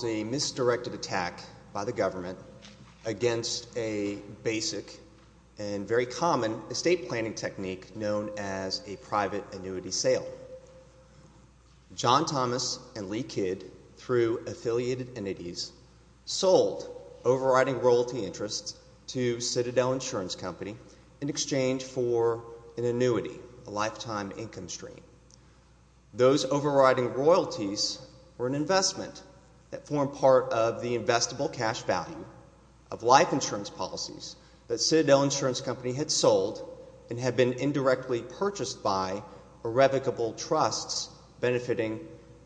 There was a misdirected attack by the government against a basic and very common estate planning technique known as a private annuity sale. John Thomas and Lee Kidd, through affiliated entities, sold overriding royalty interests to Citadel Insurance Company in exchange for an annuity, a lifetime income stream. Those overriding royalties were an investment that formed part of the investable cash value of life insurance policies that Citadel Insurance Company had sold and had been indirectly purchased by irrevocable trusts benefiting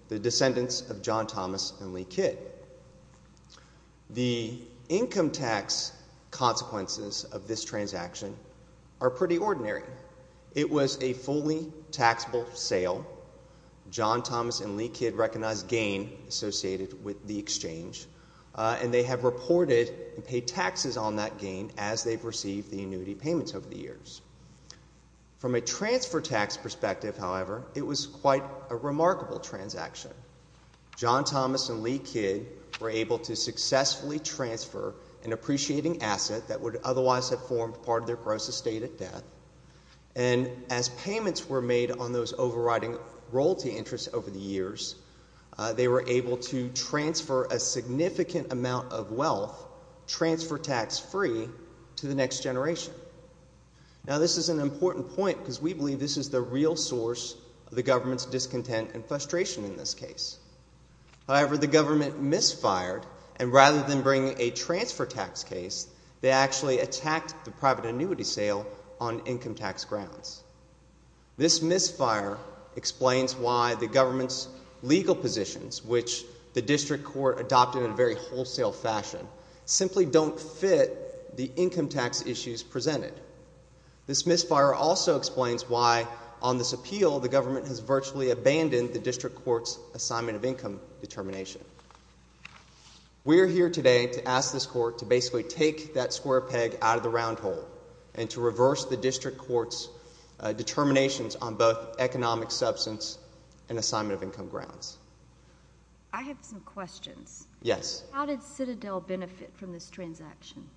the descendants of John Thomas and Lee Kidd. The income tax consequences of this transaction are pretty ordinary. It was a fully taxable sale. John Thomas and Lee Kidd recognized gain associated with the exchange and they have reported and paid taxes on that gain as they've received the annuity payments over the years. From a transfer tax perspective, however, it was quite a remarkable transaction. John Thomas and Lee Kidd were able to successfully transfer an appreciating asset that would And as payments were made on those overriding royalty interests over the years, they were able to transfer a significant amount of wealth, transfer tax free, to the next generation. Now this is an important point because we believe this is the real source of the government's discontent and frustration in this case. However, the government misfired and rather than bring a transfer tax case, they actually attacked the private annuity sale on income tax grounds. This misfire explains why the government's legal positions, which the district court adopted in a very wholesale fashion, simply don't fit the income tax issues presented. This misfire also explains why, on this appeal, the government has virtually abandoned the district court's assignment of income determination. We are here today to ask this court to basically take that square peg out of the round hole and to reverse the district court's determinations on both economic substance and assignment of income grounds. I have some questions. Yes. How did Citadel benefit from this transaction?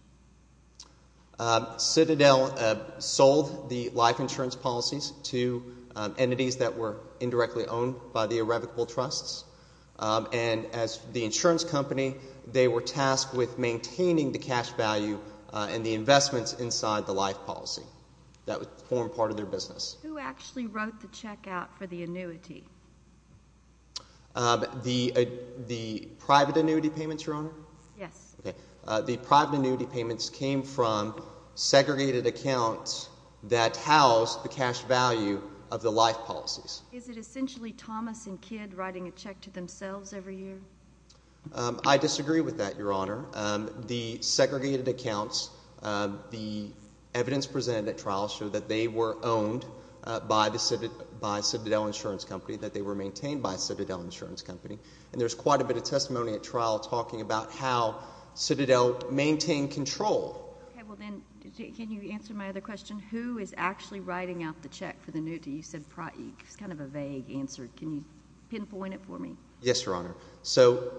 Citadel sold the life insurance policies to entities that were indirectly owned by the Revocable Trusts. And as the insurance company, they were tasked with maintaining the cash value and the investments inside the life policy that would form part of their business. Who actually wrote the checkout for the annuity? The private annuity payments, Your Honor? Yes. Okay. The private annuity payments came from segregated accounts that housed the cash value of the life policies. Is it essentially Thomas and Kidd writing a check to themselves every year? I disagree with that, Your Honor. The segregated accounts, the evidence presented at trial showed that they were owned by Citadel Insurance Company, that they were maintained by Citadel Insurance Company. And there's quite a bit of testimony at trial talking about how Citadel maintained control. Okay. Well, then, can you answer my other question? Who is actually writing out the check for the annuity? You said Praik. It's kind of a vague answer. Can you pinpoint it for me? Yes, Your Honor. So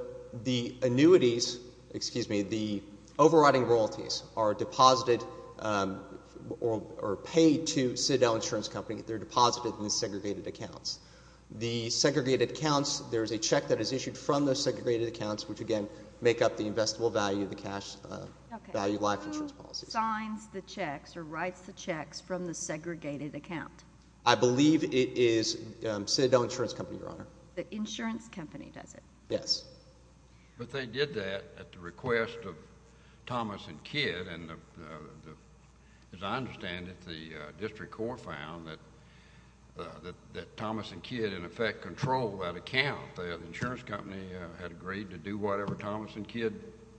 the annuities, excuse me, the overriding royalties are deposited or paid to Citadel Insurance Company. They're deposited in the segregated accounts. The segregated accounts, there's a check that is issued from those segregated accounts, which again, make up the investable value of the cash value life insurance policies. Okay. Who signs the checks or writes the checks from the segregated account? I believe it is Citadel Insurance Company, Your Honor. The insurance company does it? Yes. But they did that at the request of Thomas and Kidd, and as I understand it, the district court found that Thomas and Kidd, in effect, controlled that account. The insurance company had agreed to do whatever Thomas and Kidd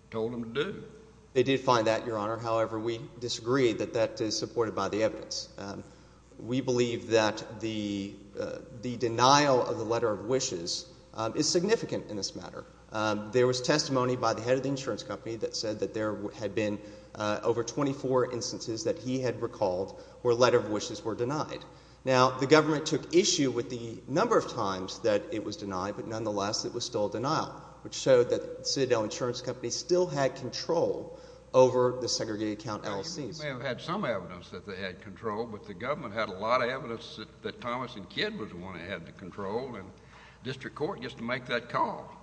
told them to do. They did find that, Your Honor. However, we disagree that that is supported by the evidence. We believe that the denial of the letter of wishes is significant in this matter. There was testimony by the head of the insurance company that said that there had been over 24 instances that he had recalled where letter of wishes were denied. Now, the government took issue with the number of times that it was denied, but nonetheless, it was still a denial, which showed that Citadel Insurance Company still had control over the segregated account LLCs. They may have had some evidence that they had control, but the government had a lot of evidence that Thomas and Kidd was the one that had the control, and the district court gets to make that call.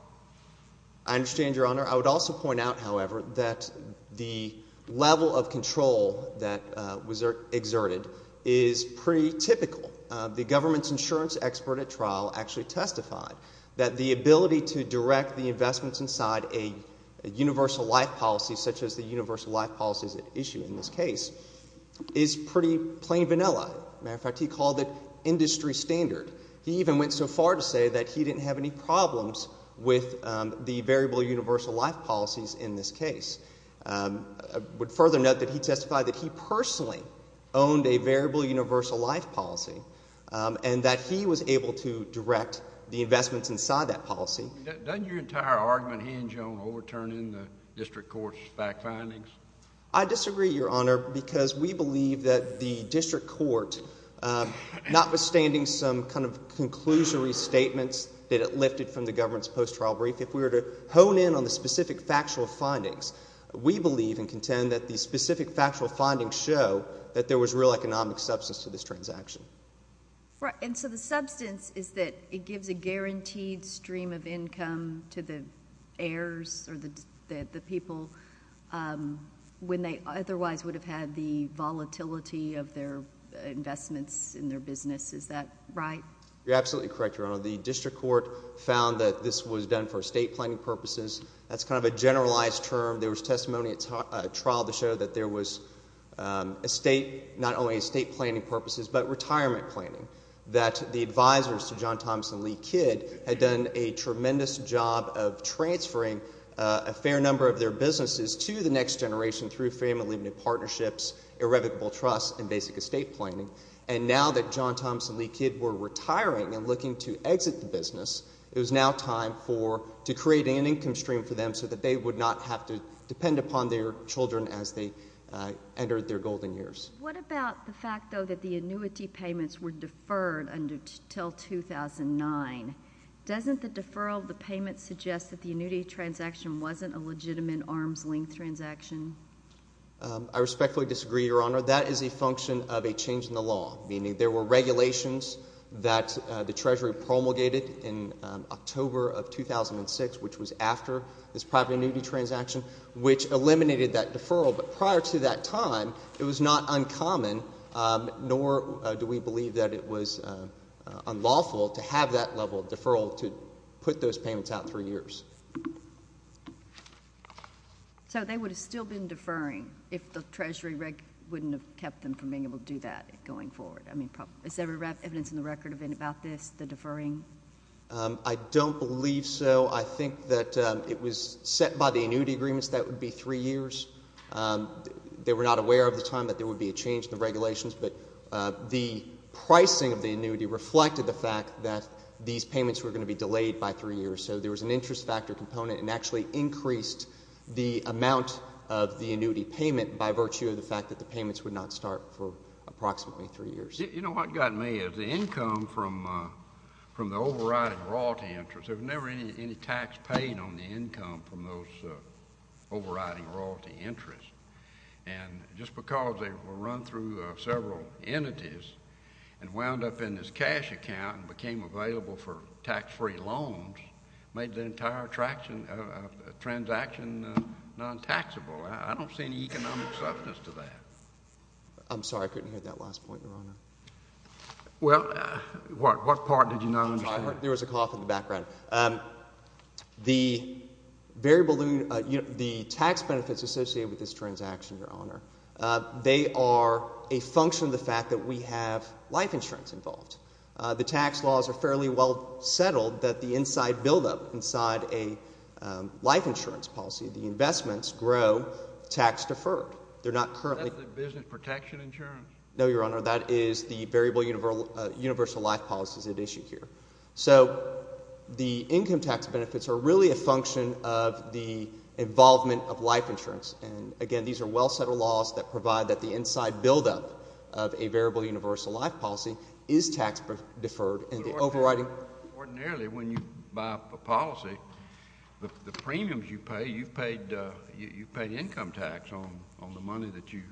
I understand, Your Honor. I would also point out, however, that the level of control that was exerted is pretty typical. The government's insurance expert at trial actually testified that the ability to direct the investments inside a universal life policy, such as the universal life policies at issue in this case, is pretty plain vanilla. As a matter of fact, he called it industry standard. He even went so far to say that he didn't have any problems with the variable universal life policies in this case. I would further note that he testified that he personally owned a variable universal life policy, and that he was able to direct the investments inside that policy. Doesn't your entire argument hinge on overturning the district court's fact findings? I disagree, Your Honor, because we believe that the district court, notwithstanding some kind of conclusory statements that it lifted from the government's post-trial brief, if we were to hone in on the specific factual findings, we believe and contend that the specific factual findings show that there was real economic substance to this transaction. And so the substance is that it gives a guaranteed stream of income to the heirs or the people when they otherwise would have had the volatility of their investments in their business. Is that right? You're absolutely correct, Your Honor. The district court found that this was done for estate planning purposes. That's kind of a generalized term. There was testimony at trial that showed that there was estate, not only estate planning purposes, but retirement planning, that the advisors to John Thompson Lee Kidd had done a tremendous job of transferring a fair number of their businesses to the next generation through family partnerships, irrevocable trust, and basic estate planning. And now that John Thompson Lee Kidd were retiring and looking to exit the business, it was now time to create an income stream for them so that they would not have to depend upon their children as they entered their golden years. What about the fact, though, that the annuity payments were deferred until 2009? Doesn't the deferral of the payments suggest that the annuity transaction wasn't a legitimate arm's-length transaction? I respectfully disagree, Your Honor. That is a function of a change in the law, meaning there were regulations that the Treasury promulgated in October of 2006, which was after this private annuity transaction, which eliminated that deferral. But prior to that time, it was not uncommon, nor do we believe that it was unlawful to have that level of deferral to put those payments out for years. So they would have still been deferring if the Treasury wouldn't have kept them from being able to do that going forward. I mean, is there evidence in the record of anything about this, the deferring? I don't believe so. I think that it was set by the annuity agreements that it would be three years. They were not aware at the time that there would be a change in the regulations, but the pricing of the annuity reflected the fact that these payments were going to be delayed by three years. So there was an interest factor component and actually increased the amount of the annuity payment by virtue of the fact that the payments would not start for approximately three years. You know what got me is the income from the overriding royalty interest, there was never any tax paid on the income from those overriding royalty interest. And just because they were run through several entities and wound up in this cash account and became available for tax-free loans, made the entire transaction non-taxable, I don't see any economic substance to that. I'm sorry, I couldn't hear that last point, Your Honor. Well, what part did you not understand? There was a cough in the background. The tax benefits associated with this transaction, Your Honor, they are a function of the fact that we have life insurance involved. The tax laws are fairly well settled that the inside buildup inside a life insurance policy, the investments grow tax-deferred. They're not currently... That's the business protection insurance? No, Your Honor, that is the variable universal life policies at issue here. So the income tax benefits are really a function of the involvement of life insurance. And again, these are well settled laws that provide that the inside buildup of a variable universal life policy is tax-deferred and the overriding... Ordinarily, when you buy a policy, the premiums you pay, you've paid income tax on the money that you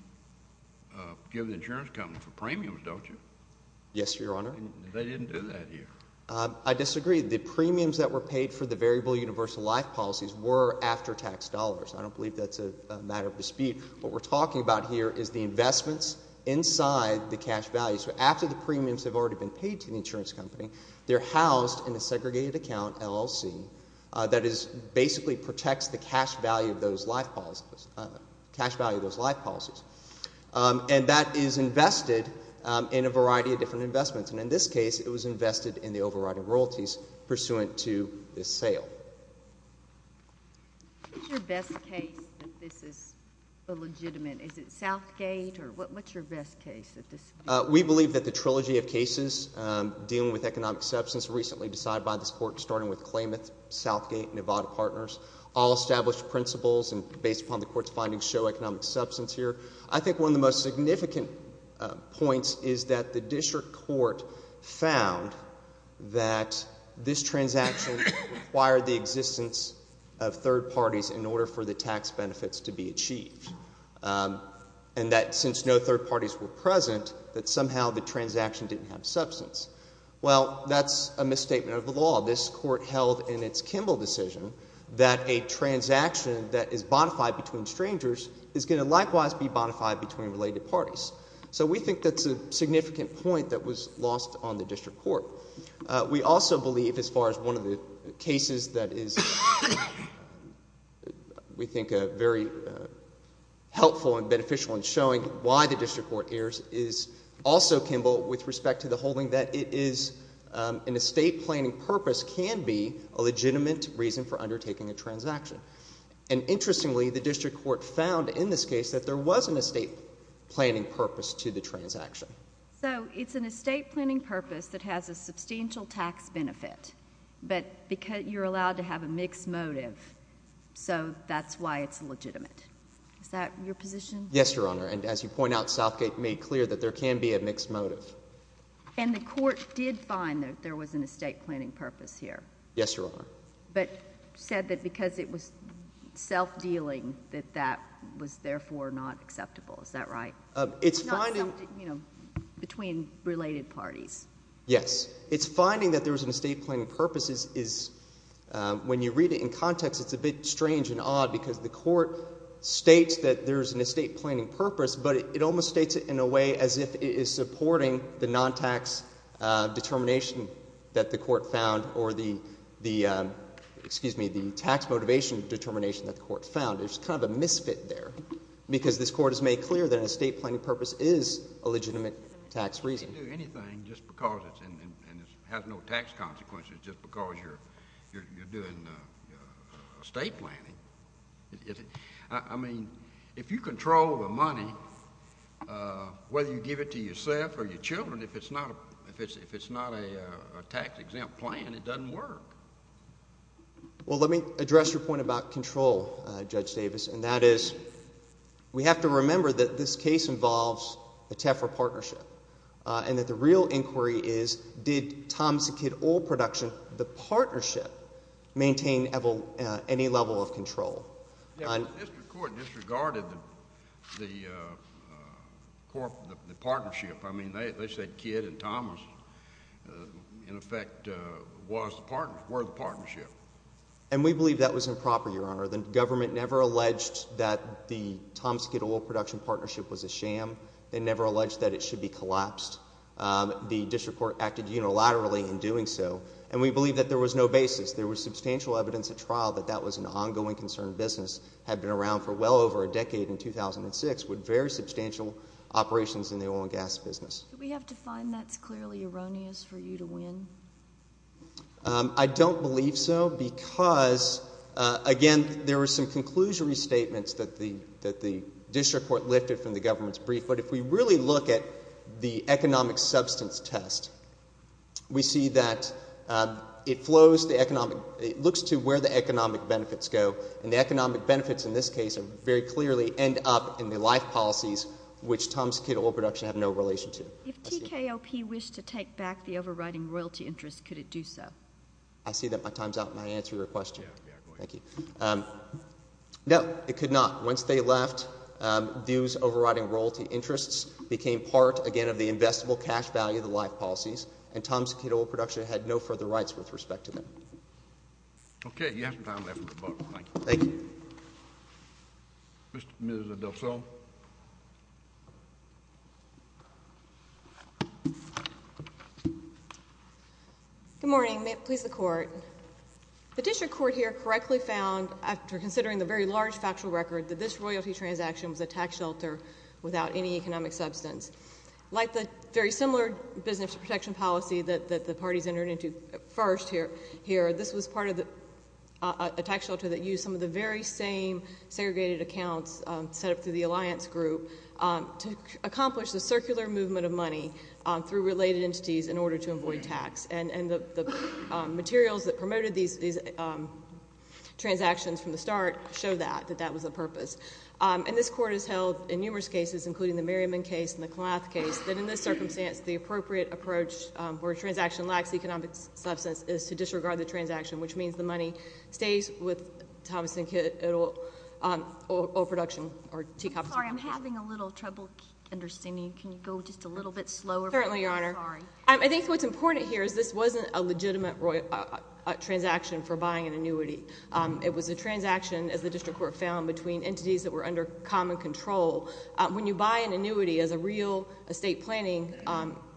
give the insurance company for premiums, don't you? Yes, Your Honor. They didn't do that here. I disagree. The premiums that were paid for the variable universal life policies were after-tax dollars. I don't believe that's a matter of dispute. What we're talking about here is the investments inside the cash value. So after the premiums have already been paid to the insurance company, they're housed in a segregated account, LLC, that basically protects the cash value of those life policies. And that is invested in a variety of different investments. And in this case, it was invested in the overriding royalties pursuant to this sale. What's your best case that this is illegitimate? Is it Southgate? What's your best case at this point? We believe that the trilogy of cases dealing with economic substance recently decided by this Court, starting with Klamath, Southgate, Nevada Partners, all established principles and based upon the Court's findings show economic substance here. I think one of the most significant points is that the District Court found that this transaction required the existence of third parties in order for the tax benefits to be achieved. And that since no third parties were present, that somehow the transaction didn't have substance. Well, that's a misstatement of the law. This Court held in its Kimball decision that a transaction that is bonafide between strangers is going to likewise be bonafide between related parties. So we think that's a significant point that was lost on the District Court. We also believe, as far as one of the cases that is, we think, very helpful and beneficial in showing why the District Court errs, is also Kimball with respect to the holding that it is an estate planning purpose can be a legitimate reason for undertaking a transaction. And interestingly, the District Court found in this case that there was an estate planning purpose to the transaction. So it's an estate planning purpose that has a substantial tax benefit, but you're allowed to have a mixed motive, so that's why it's legitimate. Is that your position? Yes, Your Honor. And as you point out, Southgate made clear that there can be a mixed motive. And the Court did find that there was an estate planning purpose here? Yes, Your Honor. But said that because it was self-dealing, that that was therefore not acceptable. Is that right? It's finding... It's not something, you know, between related parties. Yes. It's finding that there was an estate planning purpose is, when you read it in context, it's a bit strange and odd because the Court states that there's an estate planning purpose, but it almost states it in a way as if it is supporting the non-tax determination that the Court found or the, excuse me, the tax motivation determination that the Court found. There's kind of a misfit there because this Court has made clear that an estate planning purpose is a legitimate tax reason. You can't do anything just because it has no tax consequences just because you're doing estate planning. I mean, if you control the money, whether you give it to yourself or your children, if it's not a tax-exempt plan, it doesn't work. Well, let me address your point about control, Judge Davis, and that is we have to remember that this case involves a TEFRA partnership and that the real inquiry is, did Thomson Kidd Oil Production, the partnership, maintain any level of control? Yeah, but the District Court disregarded the partnership. I mean, they said Kidd and Thomson, in effect, were the partnership. And we believe that was improper, Your Honor. The government never alleged that the Thomson Kidd Oil Production partnership was a sham. They never alleged that it should be collapsed. The District Court acted unilaterally in doing so, and we believe that there was no basis. There was substantial evidence at trial that that was an ongoing concern. Business had been around for well over a decade in 2006 with very substantial operations in the oil and gas business. Do we have to find that's clearly erroneous for you to win? I don't believe so because, again, there were some conclusionary statements that the District Court lifted from the government's brief. But if we really look at the economic substance test, we see that it flows the economic, it looks to where the economic benefits go, and the economic benefits in this case very clearly end up in the life policies which Thomson Kidd Oil Production had no relation to. If TKOP wished to take back the overriding royalty interest, could it do so? I see that my time's up, and I answered your question. Thank you. No, it could not. Once they left, those overriding royalty interests became part, again, of the investable cash value of the life policies, and Thomson Kidd Oil Production had no further rights with respect to them. Okay. You have some time left in the book. Thank you. Mr. and Mrs. Adelson. Good morning. May it please the Court. The District Court here correctly found, after considering the very large factual record, that this royalty transaction was a tax shelter without any economic substance. Like the very similar business protection policy that the parties entered into first here, this was part of a tax shelter that used some of the very same segregated accounts set up through the alliance group to accomplish the circular movement of money through related entities in order to avoid tax. And the materials that promoted these transactions from the start show that, that that was the purpose. And this Court has held, in numerous cases, including the Merriman case and the Clath case, that in this circumstance, the appropriate approach where a transaction lacks economic substance is to disregard the transaction, which means the money stays with Thomson Kidd Oil Production. I'm sorry. I'm having a little trouble understanding. Can you go just a little bit slower? Certainly, Your Honor. I'm sorry. I think what's important here is this wasn't a legitimate transaction for buying an annuity. It was a transaction, as the District Court found, between entities that were under common control. When you buy an annuity as a real estate planning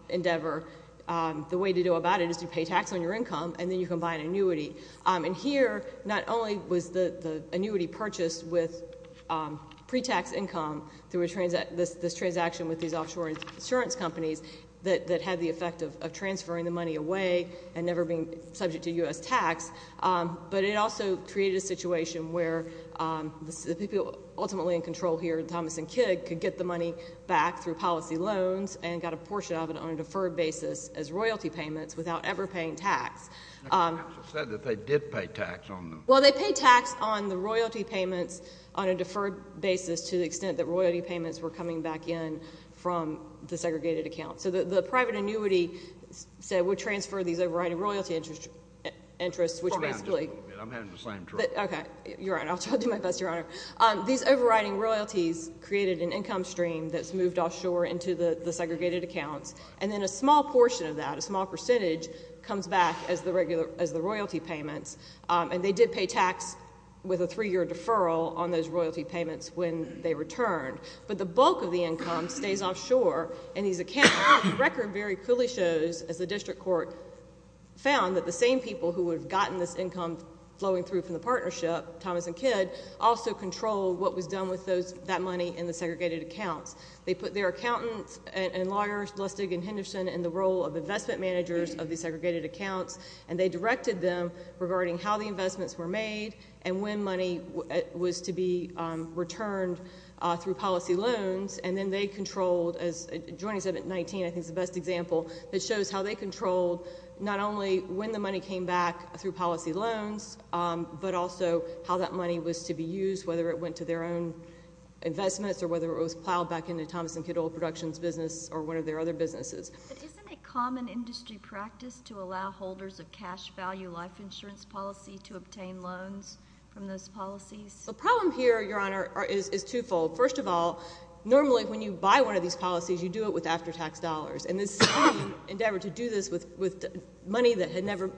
endeavor, the way to go about it is to pay tax on your income, and then you can buy an annuity. And here, not only was the annuity purchased with pre-tax income through this transaction with these offshore insurance companies that had the effect of transferring the money away and never being subject to U.S. tax, but it also created a situation where the people ultimately in control here, Thomson Kidd, could get the money back through policy loans and got a portion of it on a deferred basis as royalty payments without ever paying tax. They said that they did pay tax on them. Well, they paid tax on the royalty payments on a deferred basis to the extent that royalty payments were coming back in from the segregated account. So the private annuity would transfer these overriding royalty interests, which basically Hold on just a little bit. I'm having the same trouble. You're right. I'll try to do my best, Your Honor. These overriding royalties created an income stream that's moved offshore into the segregated accounts, and then a small portion of that, a small percentage, comes back as the royalty payments, and they did pay tax with a three-year deferral on those royalty payments when they returned. But the bulk of the income stays offshore, and these accounts, the record very clearly shows, as the district court found, that the same people who would have gotten this income flowing through from the partnership, Thomas and Kidd, also controlled what was done with that money in the segregated accounts. They put their accountants and lawyers, Lustig and Henderson, in the role of investment managers of the segregated accounts, and they directed them regarding how the investments were made and when money was to be returned through policy loans. And then they controlled, as Joining said at 19, I think is the best example, that shows how they controlled not only when the money came back through policy loans, but also how that money was to be used, whether it went to their own investments or whether it was plowed back into Thomas and Kidd Oil Productions' business or one of their other businesses. But isn't it common industry practice to allow holders of cash value life insurance policy to obtain loans from those policies? The problem here, Your Honor, is twofold. First of all, normally when you buy one of these policies, you do it with after-tax dollars, and this endeavor to do this with money that had never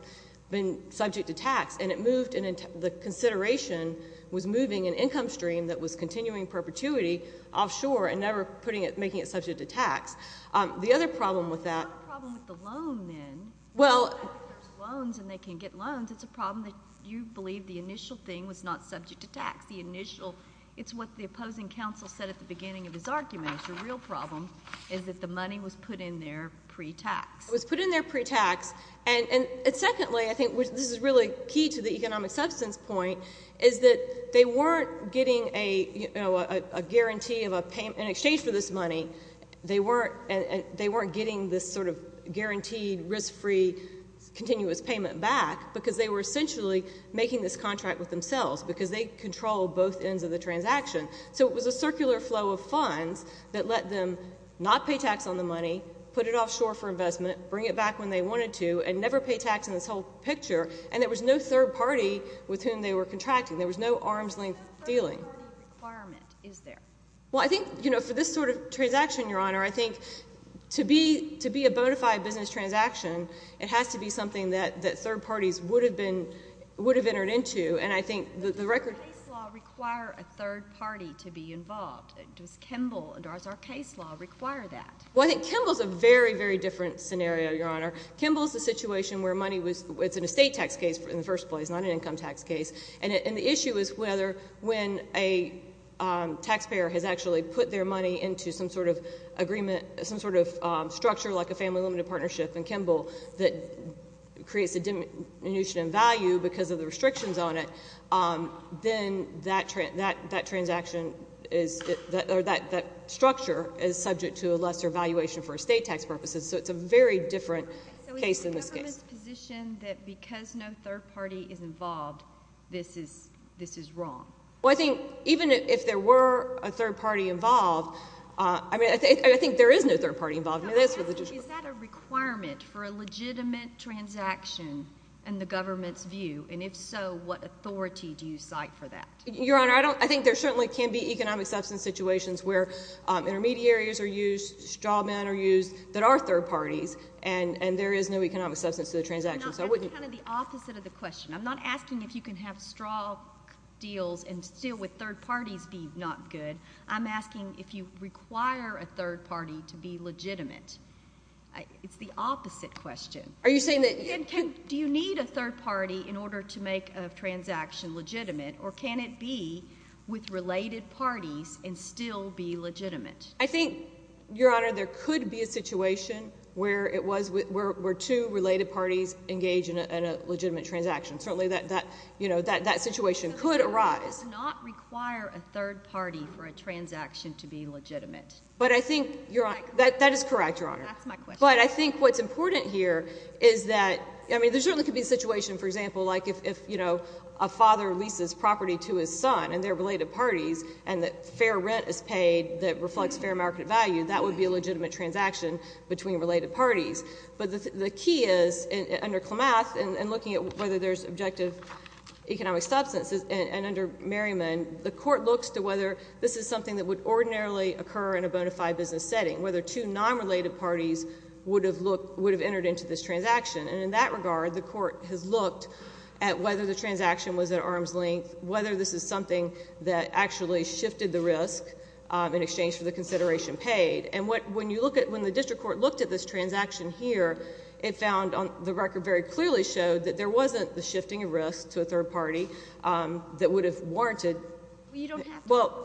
been subject to tax, and it moved and the consideration was moving an income stream that was continuing perpetuity offshore and never making it subject to tax. The other problem with that— What's the problem with the loan, then? Well— I think there's loans and they can get loans. It's a problem that you believe the initial thing was not subject to tax. It's what the opposing counsel said at the beginning of his argument. The real problem is that the money was put in there pre-tax. It was put in there pre-tax, and secondly, I think this is really key to the economic substance point, is that they weren't getting a guarantee of a payment in exchange for this money. They weren't getting this sort of guaranteed, risk-free, continuous payment back because they were essentially making this contract with themselves because they control both ends of the transaction. So it was a circular flow of funds that let them not pay tax on the money, put it offshore for investment, bring it back when they wanted to, and never pay tax in this whole picture, and there was no third party with whom they were contracting. There was no arm's-length dealing. What third-party requirement is there? Well, I think, you know, for this sort of transaction, Your Honor, I think to be a bona fide business transaction, it has to be something that third parties would have entered into, and I think the record— Does it require a third party to be involved? Does Kimball and our case law require that? Well, I think Kimball's a very, very different scenario, Your Honor. Kimball's a situation where money was— it's an estate tax case in the first place, not an income tax case, and the issue is whether when a taxpayer has actually put their money into some sort of agreement, some sort of structure like a family limited partnership in Kimball that creates a diminution in value because of the restrictions on it, then that transaction is— or that structure is subject to a lesser valuation for estate tax purposes, so it's a very different case in this case. So is the government's position that because no third party is involved, this is wrong? Well, I think even if there were a third party involved, I mean, I think there is no third party involved. Is that a requirement for a legitimate transaction in the government's view? And if so, what authority do you cite for that? Your Honor, I think there certainly can be economic substance situations where intermediaries are used, straw men are used that are third parties, and there is no economic substance to the transaction. That's kind of the opposite of the question. I'm not asking if you can have straw deals and still with third parties be not good. I'm asking if you require a third party to be legitimate. It's the opposite question. Are you saying that— Do you need a third party in order to make a transaction legitimate or can it be with related parties and still be legitimate? I think, Your Honor, there could be a situation where two related parties engage in a legitimate transaction. Certainly that situation could arise. So the government does not require a third party for a transaction to be legitimate? That is correct, Your Honor. That's my question. But I think what's important here is that— I mean, there certainly could be a situation, for example, like if a father leases property to his son and they're related parties and that fair rent is paid that reflects fair market value, that would be a legitimate transaction between related parties. But the key is, under Klamath, in looking at whether there's objective economic substance, and under Merriman, the Court looks to whether this is something that would ordinarily occur in a bona fide business setting, whether two non-related parties would have entered into this transaction. And in that regard, the Court has looked at whether the transaction was at arm's length, whether this is something that actually shifted the risk in exchange for the consideration paid. And when the district court looked at this transaction here, it found, the record very clearly showed, that there wasn't the shifting of risk to a third party that would have warranted— Well, you don't have to— Well,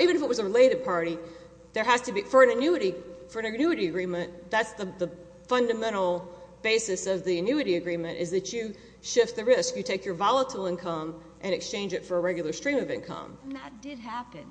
even if it was a related party, for an annuity agreement, that's the fundamental basis of the annuity agreement, is that you shift the risk. You take your volatile income and exchange it for a regular stream of income. And that did happen,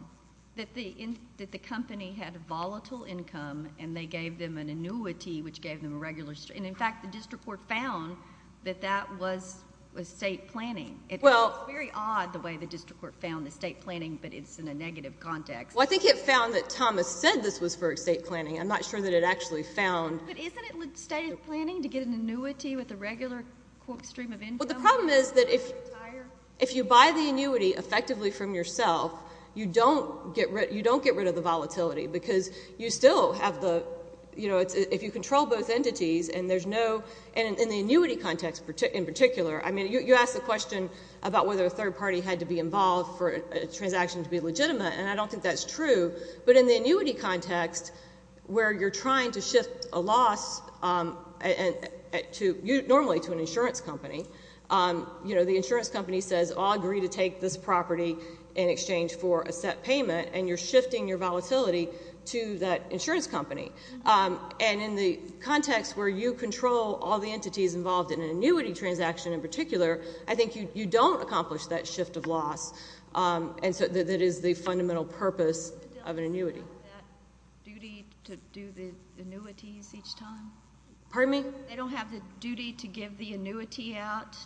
that the company had a volatile income and they gave them an annuity which gave them a regular stream. And in fact, the district court found that that was state planning. It's very odd the way the district court found the state planning, but it's in a negative context. Well, I think it found that Thomas said this was for state planning. I'm not sure that it actually found— But isn't it state planning to get an annuity with a regular, quote, stream of income? Well, the problem is that if you buy the annuity effectively from yourself, you don't get rid of the volatility because you still have the— you know, if you control both entities and there's no— and in the annuity context in particular, I mean, you asked the question about whether a third party had to be involved for a transaction to be legitimate, and I don't think that's true. But in the annuity context, where you're trying to shift a loss normally to an insurance company, you know, the insurance company says, I'll agree to take this property in exchange for a set payment, and you're shifting your volatility to that insurance company. And in the context where you control all the entities involved in an annuity transaction in particular, I think you don't accomplish that shift of loss that is the fundamental purpose of an annuity. But they don't have that duty to do the annuities each time? Pardon me? They don't have the duty to give the annuity out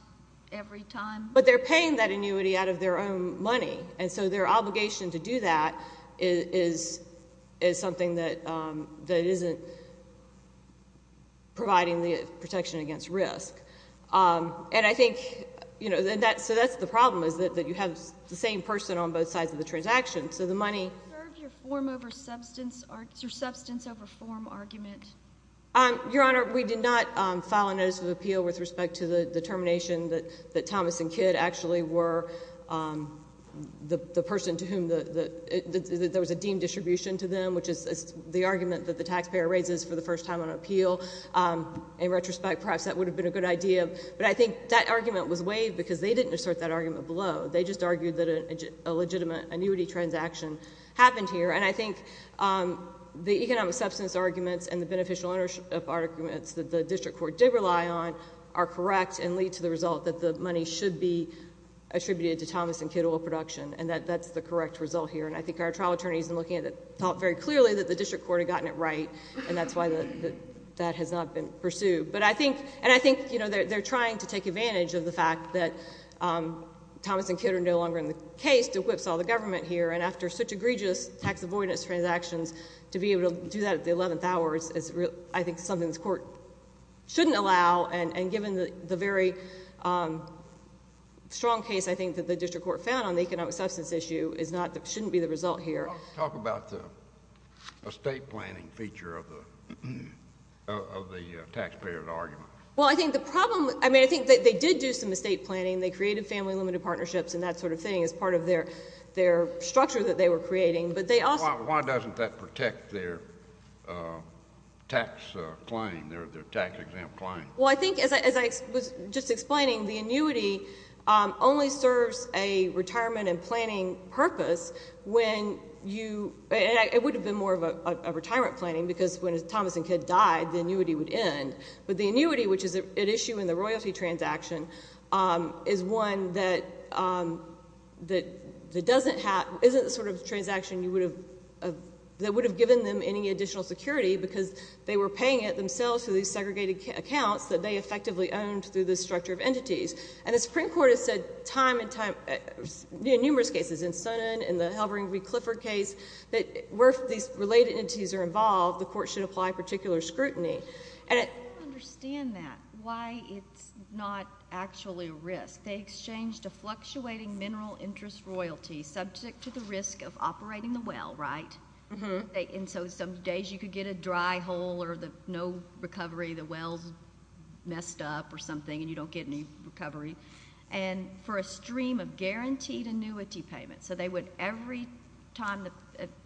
every time? But they're paying that annuity out of their own money. And so their obligation to do that is something that isn't providing the protection against risk. And I think, you know, so that's the problem, is that you have the same person on both sides of the transaction, so the money... ...your substance over form argument? Your Honor, we did not file a notice of appeal with respect to the determination that Thomas and Kidd actually were the person to whom the... there was a deemed distribution to them, which is the argument that the taxpayer raises for the first time on appeal. In retrospect, perhaps that would have been a good idea. But I think that argument was waived because they didn't assert that argument below. They just argued that a legitimate annuity transaction happened here. And I think the economic substance arguments and the beneficial ownership arguments that the district court did rely on are correct and lead to the result that the money should be attributed to Thomas and Kidd Oil Production. And that's the correct result here. And I think our trial attorneys, in looking at it, thought very clearly that the district court had gotten it right. And that's why that has not been pursued. But I think... And I think they're trying to take advantage of the fact that Thomas and Kidd are no longer in the case to whipsaw the government here. And after such egregious tax-avoidance transactions, to be able to do that at the 11th hour is, I think, something the court shouldn't allow. And given the very strong case, I think, that the district court found on the economic substance issue shouldn't be the result here. Talk about the estate planning feature of the taxpayer's argument. Well, I think the problem... I mean, I think they did do some estate planning. They created family-limited partnerships and that sort of thing as part of their structure that they were creating. But they also... Why doesn't that protect their tax claim, their tax-exempt claim? Well, I think, as I was just explaining, the annuity only serves a retirement and planning purpose when you... It would have been more of a retirement planning because when Thomas and Kidd died, the annuity would end. But the annuity, which is at issue in the royalty transaction, is one that doesn't have... Isn't the sort of transaction that would have given them any additional security because they were paying it themselves through these segregated accounts that they effectively owned through this structure of entities. And the Supreme Court has said time and time... In numerous cases, in Sonnen, in the Halbering v. Clifford case, that where these related entities are involved, the court should apply particular scrutiny. And it... I don't understand that, why it's not actually a risk. They exchanged a fluctuating mineral interest royalty subject to the risk of operating the well, right? Mm-hmm. And so some days you could get a dry hole or no recovery, the well's messed up or something and you don't get any recovery. And for a stream of guaranteed annuity payments, so they would... Every time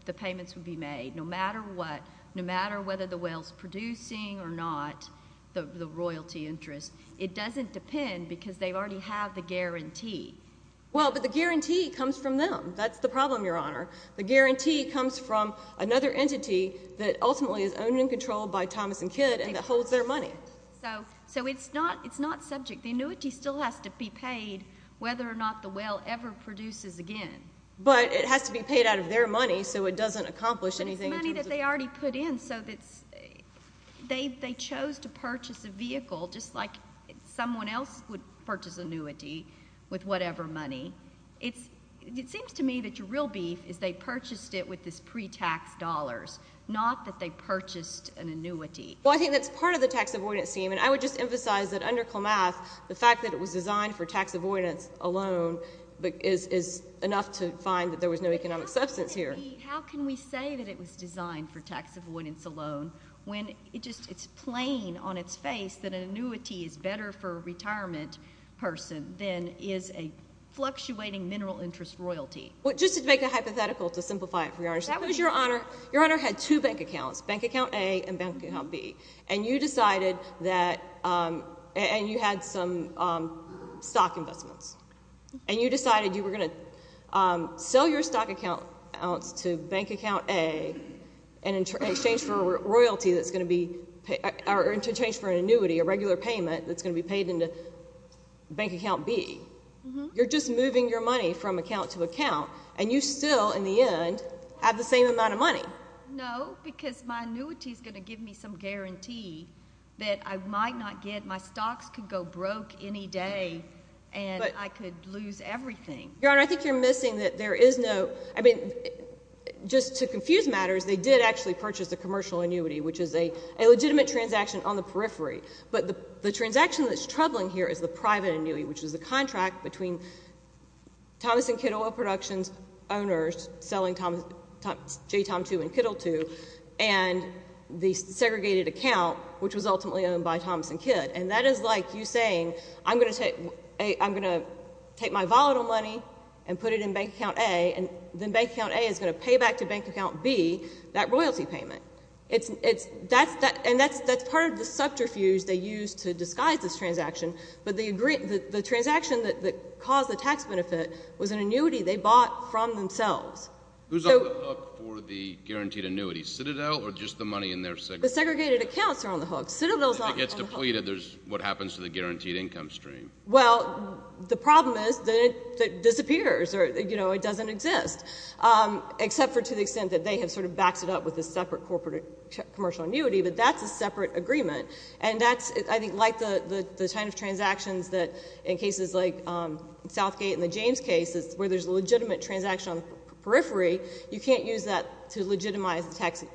the payments would be made, no matter what, no matter whether the well's producing or not the royalty interest, it doesn't depend because they already have the guarantee. Well, but the guarantee comes from them. That's the problem, Your Honor. The guarantee comes from another entity that ultimately is owned and controlled by Thomas and Kidd and that holds their money. So it's not subject. The annuity still has to be paid whether or not the well ever produces again. But it has to be paid out of their money so it doesn't accomplish anything in terms of... But it's money that they already put in so they chose to purchase a vehicle just like someone else would purchase annuity with whatever money. It seems to me that your real beef is they purchased it with this pre-tax dollars, not that they purchased an annuity. Well, I think that's part of the tax avoidance theme and I would just emphasize that under Colmath the fact that it was designed for tax avoidance alone is enough to find that there was no economic substance here. How can we say that it was designed for tax avoidance alone when it's just plain on its face that an annuity is better for a retirement person than is a fluctuating mineral interest royalty? Well, just to make a hypothetical to simplify it for your honor, your honor had two bank accounts, bank account A and bank account B and you decided that, and you had some stock investments and you decided you were going to sell your stock accounts to bank account A in exchange for royalty that's going to be in exchange for an annuity, a regular payment that's going to be paid into bank account B. You're just moving your money from account to account and you still in the end have the same amount of money. No because my annuity is going to give me some guarantee that I might not get, my stocks could go broke any day and I could lose everything. Your honor, I think you're missing that there is no, I mean just to confuse matters they did actually purchase a commercial annuity which is a legitimate transaction on the periphery, but the transaction that's troubling here is the private annuity which is the contract between Thomas and Kidd Oil Productions owners selling J Tom 2 and Kiddle 2 and the segregated account which was ultimately owned by Thomas and Kidd and that is like you saying I'm going to take my volatile money and put it in bank account A and then bank account A is going to pay back to bank account B that royalty payment. That's part of the subterfuge they used to disguise this transaction, but the transaction that caused the tax benefit was an annuity they bought from themselves. Who's on the hook for the guaranteed annuity, Citadel or just the money in there? The segregated accounts are on the hook. If it gets depleted there's what happens to the guaranteed income stream. Well, the problem is that it disappears you know, it doesn't exist except for to the extent that they have sort of backed it up with a separate corporate commercial annuity, but that's a separate agreement and that's I think like the kind of transactions that in cases like Southgate and the James case where there's a legitimate transaction on the periphery, you can't use that to legitimize the tax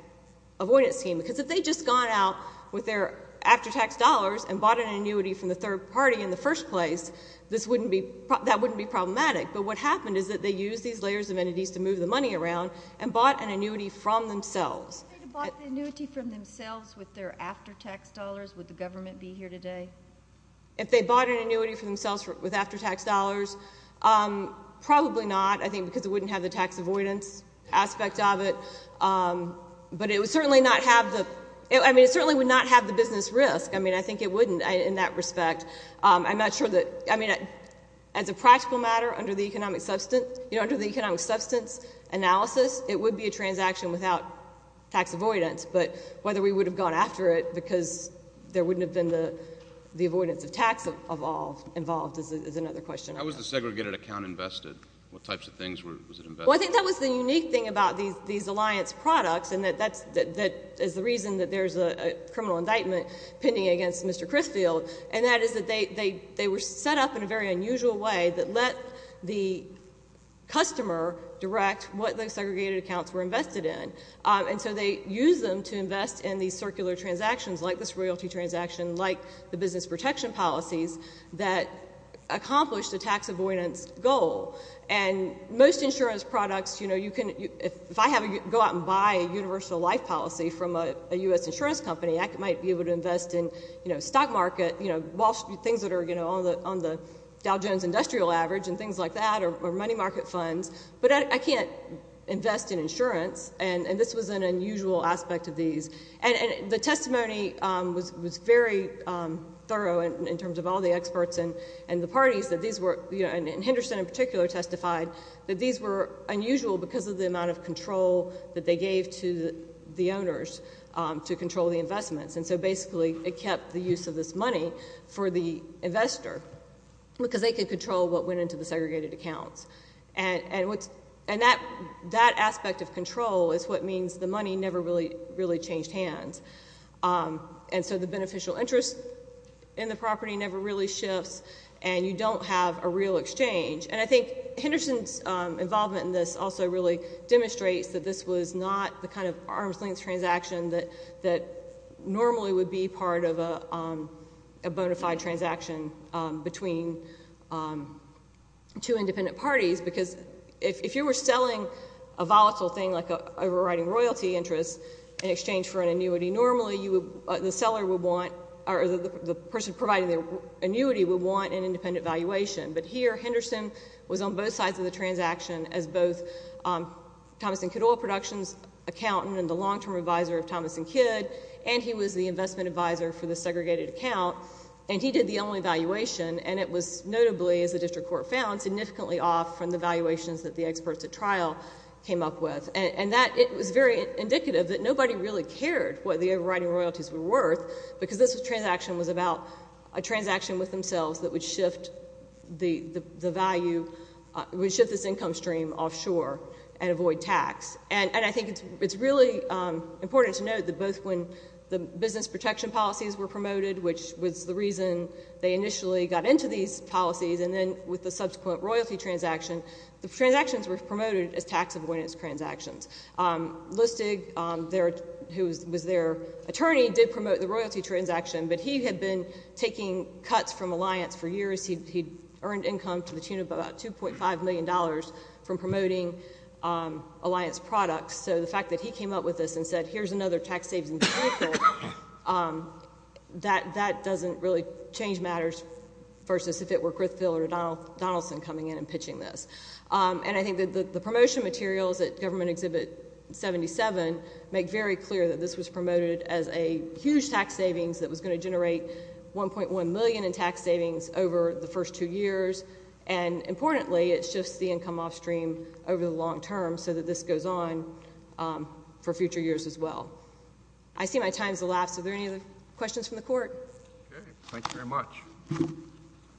avoidance scheme because if they'd just gone out with their after-tax dollars and bought an annuity from the third party in the first place, that wouldn't be problematic, but what happened is that they used these layers of entities to move the money around and bought an annuity from themselves. If they'd bought the annuity from themselves with their after-tax dollars would the government be here today? If they bought an annuity from themselves with after-tax dollars probably not, I think because it wouldn't have the tax avoidance aspect of it but it would certainly not have the, I mean it certainly would not have the business risk, I mean I think it wouldn't in that respect. I'm not sure that, I mean as a practical matter under the economic substance you know, under the economic substance analysis it would be a transaction without tax avoidance, but whether we would have gone after it because there wouldn't have been the avoidance of tax involved is another question. How was the segregated account invested? What types of things was it invested in? Well I think that was the unique thing about these Alliance products and that is the reason that there's a criminal indictment pending against Mr. Crisfield and that is that they were set up in a very unusual way that let the customer direct what the segregated accounts were invested in, and so they use them to invest in these circular transactions like this royalty transaction like the business protection policies that accomplish the tax avoidance goal and most insurance products you know, you can, if I go out and buy a universal life policy from a U.S. insurance company, I might be able to invest in, you know, stock market you know, Wall Street, things that are on the Dow Jones industrial average and things like that or money market funds but I can't invest in unusual aspect of these and the testimony was very thorough in terms of all the experts and the parties that these were, and Henderson in particular testified that these were unusual because of the amount of control that they gave to the owners to control the investments and so basically it kept the use of this money for the investor because they could control what went into the segregated accounts and that aspect of control is what means the money never really changed hands and so the beneficial interest in the property never really shifts and you don't have a real exchange and I think Henderson's involvement in this also really demonstrates that this was not the kind of arm's length transaction that normally would be part of a bona fide transaction between two independent parties because if you were selling a volatile thing like overriding royalty interest in exchange for an annuity normally the seller would want or the person providing the annuity would want an independent valuation but here Henderson was on both sides of the transaction as both Thomas and Kidd Oil Productions accountant and the long term advisor of Thomas and Kidd and he was the investment advisor for the segregated account and he did the only valuation and it was notably as the district court found significantly off from the valuations that the experts at trial came up with and that it was very indicative that nobody really cared what the overriding royalties were worth because this transaction was about a transaction with themselves that would shift the value would shift this income stream offshore and avoid tax and I think it's really important to note that both when the business protection policies were promoted which was the reason they initially got into these policies and then with the subsequent royalty transaction the transactions were promoted as tax avoidance transactions. Listig who was their attorney did promote the royalty transaction but he had been taking cuts from Alliance for years he earned income to the tune of about 2.5 million dollars from promoting Alliance products so the fact that he came up with this and said here's another tax savings example that doesn't really change matters versus if it were Griffithville or Donaldson coming in and pitching this and I think the promotion materials that government exhibit 77 make very clear that this was promoted as a huge tax savings that was going to generate 1.1 million in tax savings over the first two years and importantly it shifts the income off stream over the long term so that this goes on for future years as well I see my time has elapsed are there any questions from the court? Thank you very much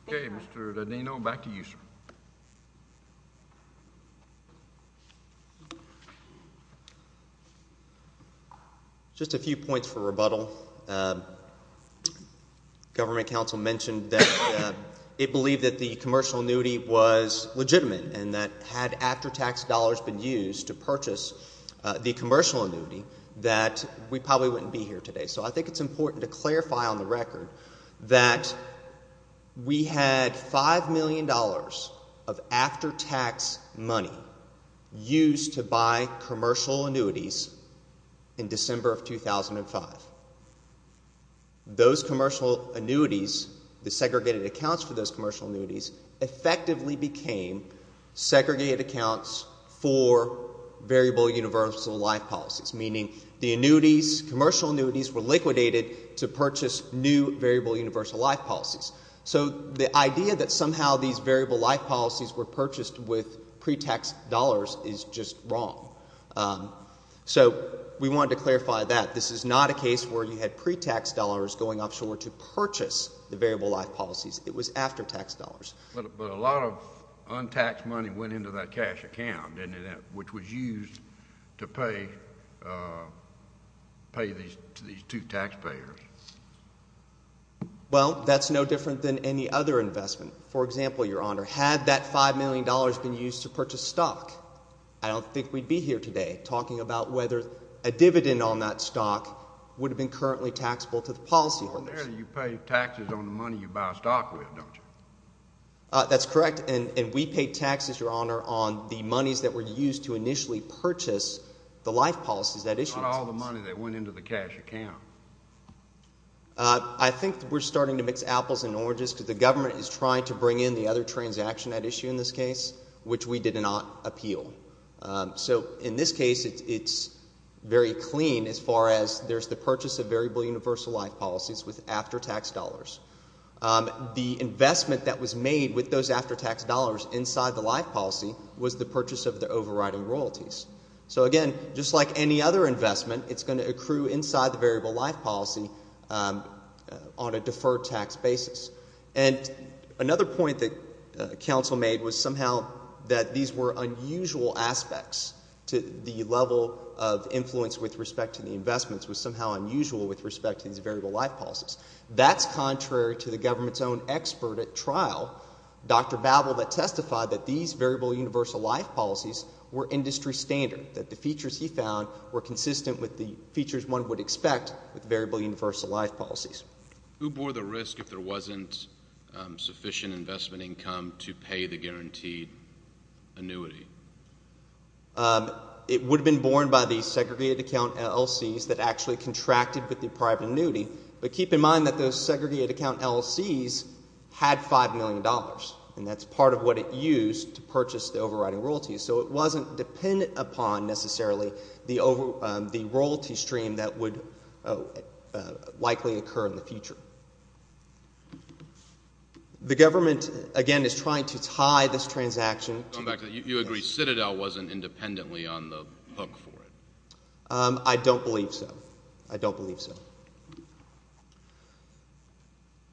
Mr. Danino back to you sir Just a few points for rebuttal government council mentioned that it believed that the commercial annuity was legitimate and that had after tax dollars been used to purchase the commercial annuity that we probably wouldn't be here today so I think it's important to clarify on the record that we had 5 million dollars of after tax money used to buy commercial annuities in December of 2005 those commercial annuities the segregated accounts for those commercial annuities effectively became segregated accounts for variable universal life policies meaning the annuities commercial annuities were liquidated to purchase new variable universal life policies so the idea that somehow these variable life policies were purchased with pre-tax dollars is just wrong so we wanted to clarify that this is not a case where you had pre-tax dollars going offshore to purchase the variable life policies it was after tax dollars but a lot of untaxed money went into that cash account didn't it which was used to pay these two taxpayers well that's no different than any other investment for example your honor had that 5 million dollars been used to purchase stock I don't think we'd be here today talking about whether a dividend on that stock would have been currently taxable to the policyholders you pay taxes on the money you buy stock with don't you that's correct and we pay taxes your use to initially purchase the life policies that issue all the money that went into the cash account I think we're starting to mix apples and oranges because the government is trying to bring in the other transaction at issue in this case which we did not appeal in this case it's very clean as far as there's the purchase of variable universal life policies with after tax dollars the investment that was made with those after tax dollars inside the life policy was the purchase of the overriding royalties so again just like any other investment it's going to accrue inside the variable life policy on a deferred tax basis and another point that council made was somehow that these were unusual aspects to the level of influence with respect to the investments was somehow unusual with respect to these variable life policies that's contrary to the government's own expert at trial Dr. Babel that testified that these variable universal life policies were industry standard that the features he found were consistent with the features one would expect with variable universal life policies Who bore the risk if there wasn't sufficient investment income to pay the guaranteed annuity It would have been borne by the segregated account LLCs that actually contracted with the private annuity but keep in mind that those segregated account LLCs had five million dollars and that's part of what it used to purchase the overriding royalties so it wasn't dependent upon necessarily the royalty stream that would likely occur in the future The government again is trying to tie this transaction Citadel wasn't independently on the hook for it I don't believe so I don't believe so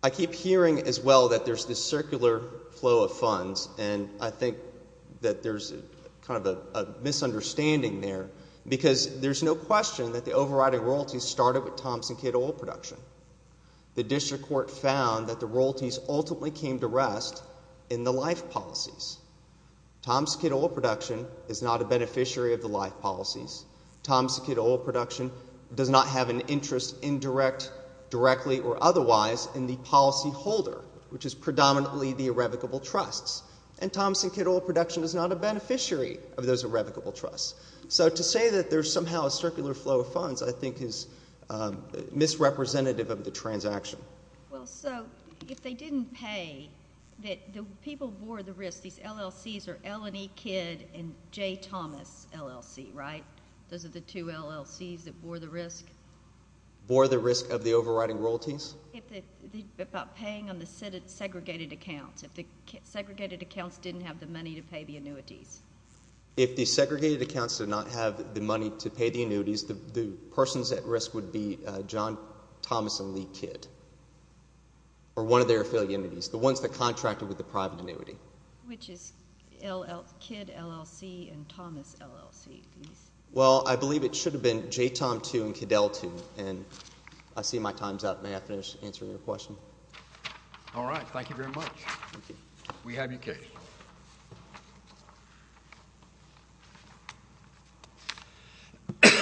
I keep hearing as well that there's this circular flow of funds and I think that there's kind of a misunderstanding there because there's no question that the overriding royalties started with Thompson Kid oil production The district court found that the royalties ultimately came to rest in the life policies Thompson Kid oil production is not a beneficiary of the life policies Thompson Kid oil production does not have an interest in direct directly or otherwise in the policy holder which is predominantly the irrevocable trusts and Thompson Kid oil production is not a beneficiary of those irrevocable trusts So to say that there's somehow a circular flow of funds I think is misrepresentative of the transaction Well so if they didn't pay the people bore the risk, these LLCs are Ellen E. Kid and Those are the two LLCs that bore the risk Bore the risk of the overriding royalties About paying on the segregated accounts, if the segregated accounts didn't have the money to pay the annuities If the segregated accounts did not have the money to pay the annuities the persons at risk would be John Thomas and Lee Kid or one of their affiliates, the ones that contracted with the private annuity Which is Kid LLC and Well I believe it should have been J Tom 2 and Kid L2 I see my time's up, may I finish answering your question Alright, thank you very much We have your case